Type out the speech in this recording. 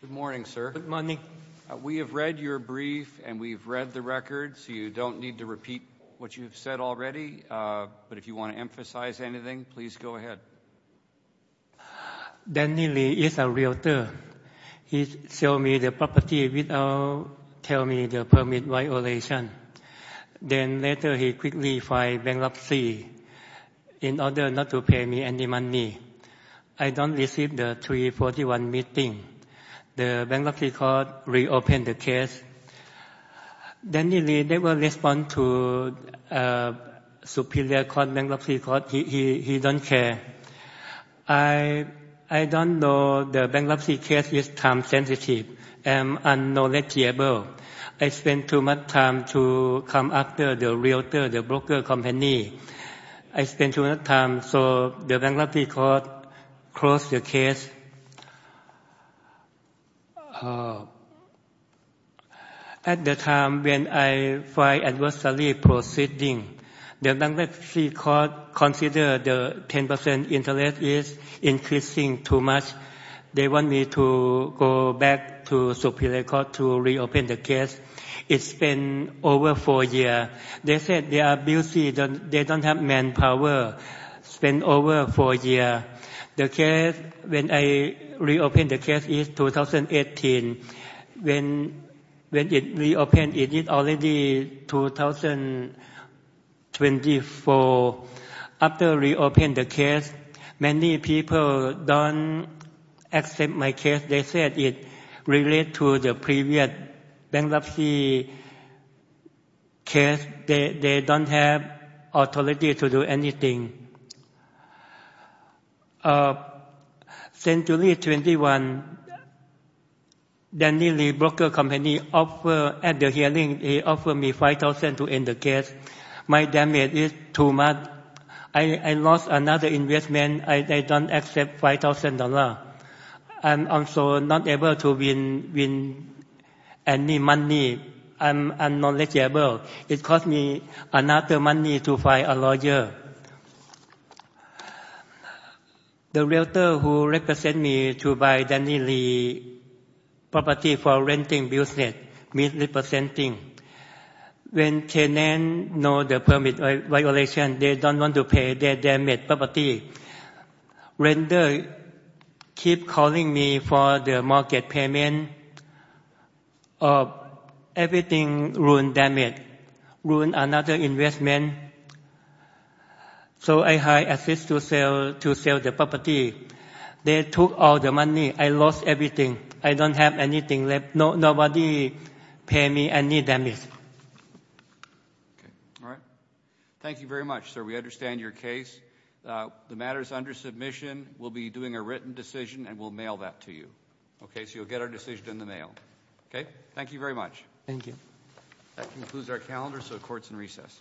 Good morning, sir. We have read your brief and we've read the record, so you don't need to repeat what you've said already. But if you want to emphasize anything, please go ahead. Danny Lee is a realtor. He sold me the property without telling me the permit violation. Then later he quickly filed bankruptcy in order not to pay me any money. I didn't receive the 3-41 meeting. The bankruptcy court reopened the case. Danny Lee never responded to the Superior Court bankruptcy court. He didn't care. I didn't know the bankruptcy case was time-sensitive and unknowledgeable. I spent too much time to come after the realtor, the broker company. I spent too much time, so the bankruptcy court closed the case. At the time when I filed adversity proceeding, the bankruptcy court considered the 10% interest is increasing too much. They want me to go back to the Superior Court to reopen the case. It's been over four years. They said they are busy. They don't have manpower. It's been over four years. The case, when I reopened the case, is 2018. When it reopened, it is already 2024. After reopening the case, many people don't accept my case. They said it relates to the previous bankruptcy case. They don't have authority to do anything. Since 2021, Danny Lee Broker Company at the hearing, he offered me $5,000 to end the case. My damage is too much. I lost another investment. I don't accept $5,000. I'm also not able to win any money. I'm unknowledgeable. It cost me another money to find a lawyer. The realtor who represent me to buy Danny Lee property for renting business means representing. When CNN knows the permit violation, they don't want to pay their damaged property. When they keep calling me for the market payment, everything ruined damage, ruined another investment. So I had to sell the property. They took all the money. I lost everything. I don't have anything left. Nobody pay me any damage. All right. Thank you very much, sir. We understand your case. The matter is under submission. We'll be doing a written decision, and we'll mail that to you. Okay? So you'll get our decision in the mail. Okay? Thank you very much. Thank you. That concludes our calendar, so the court's in recess.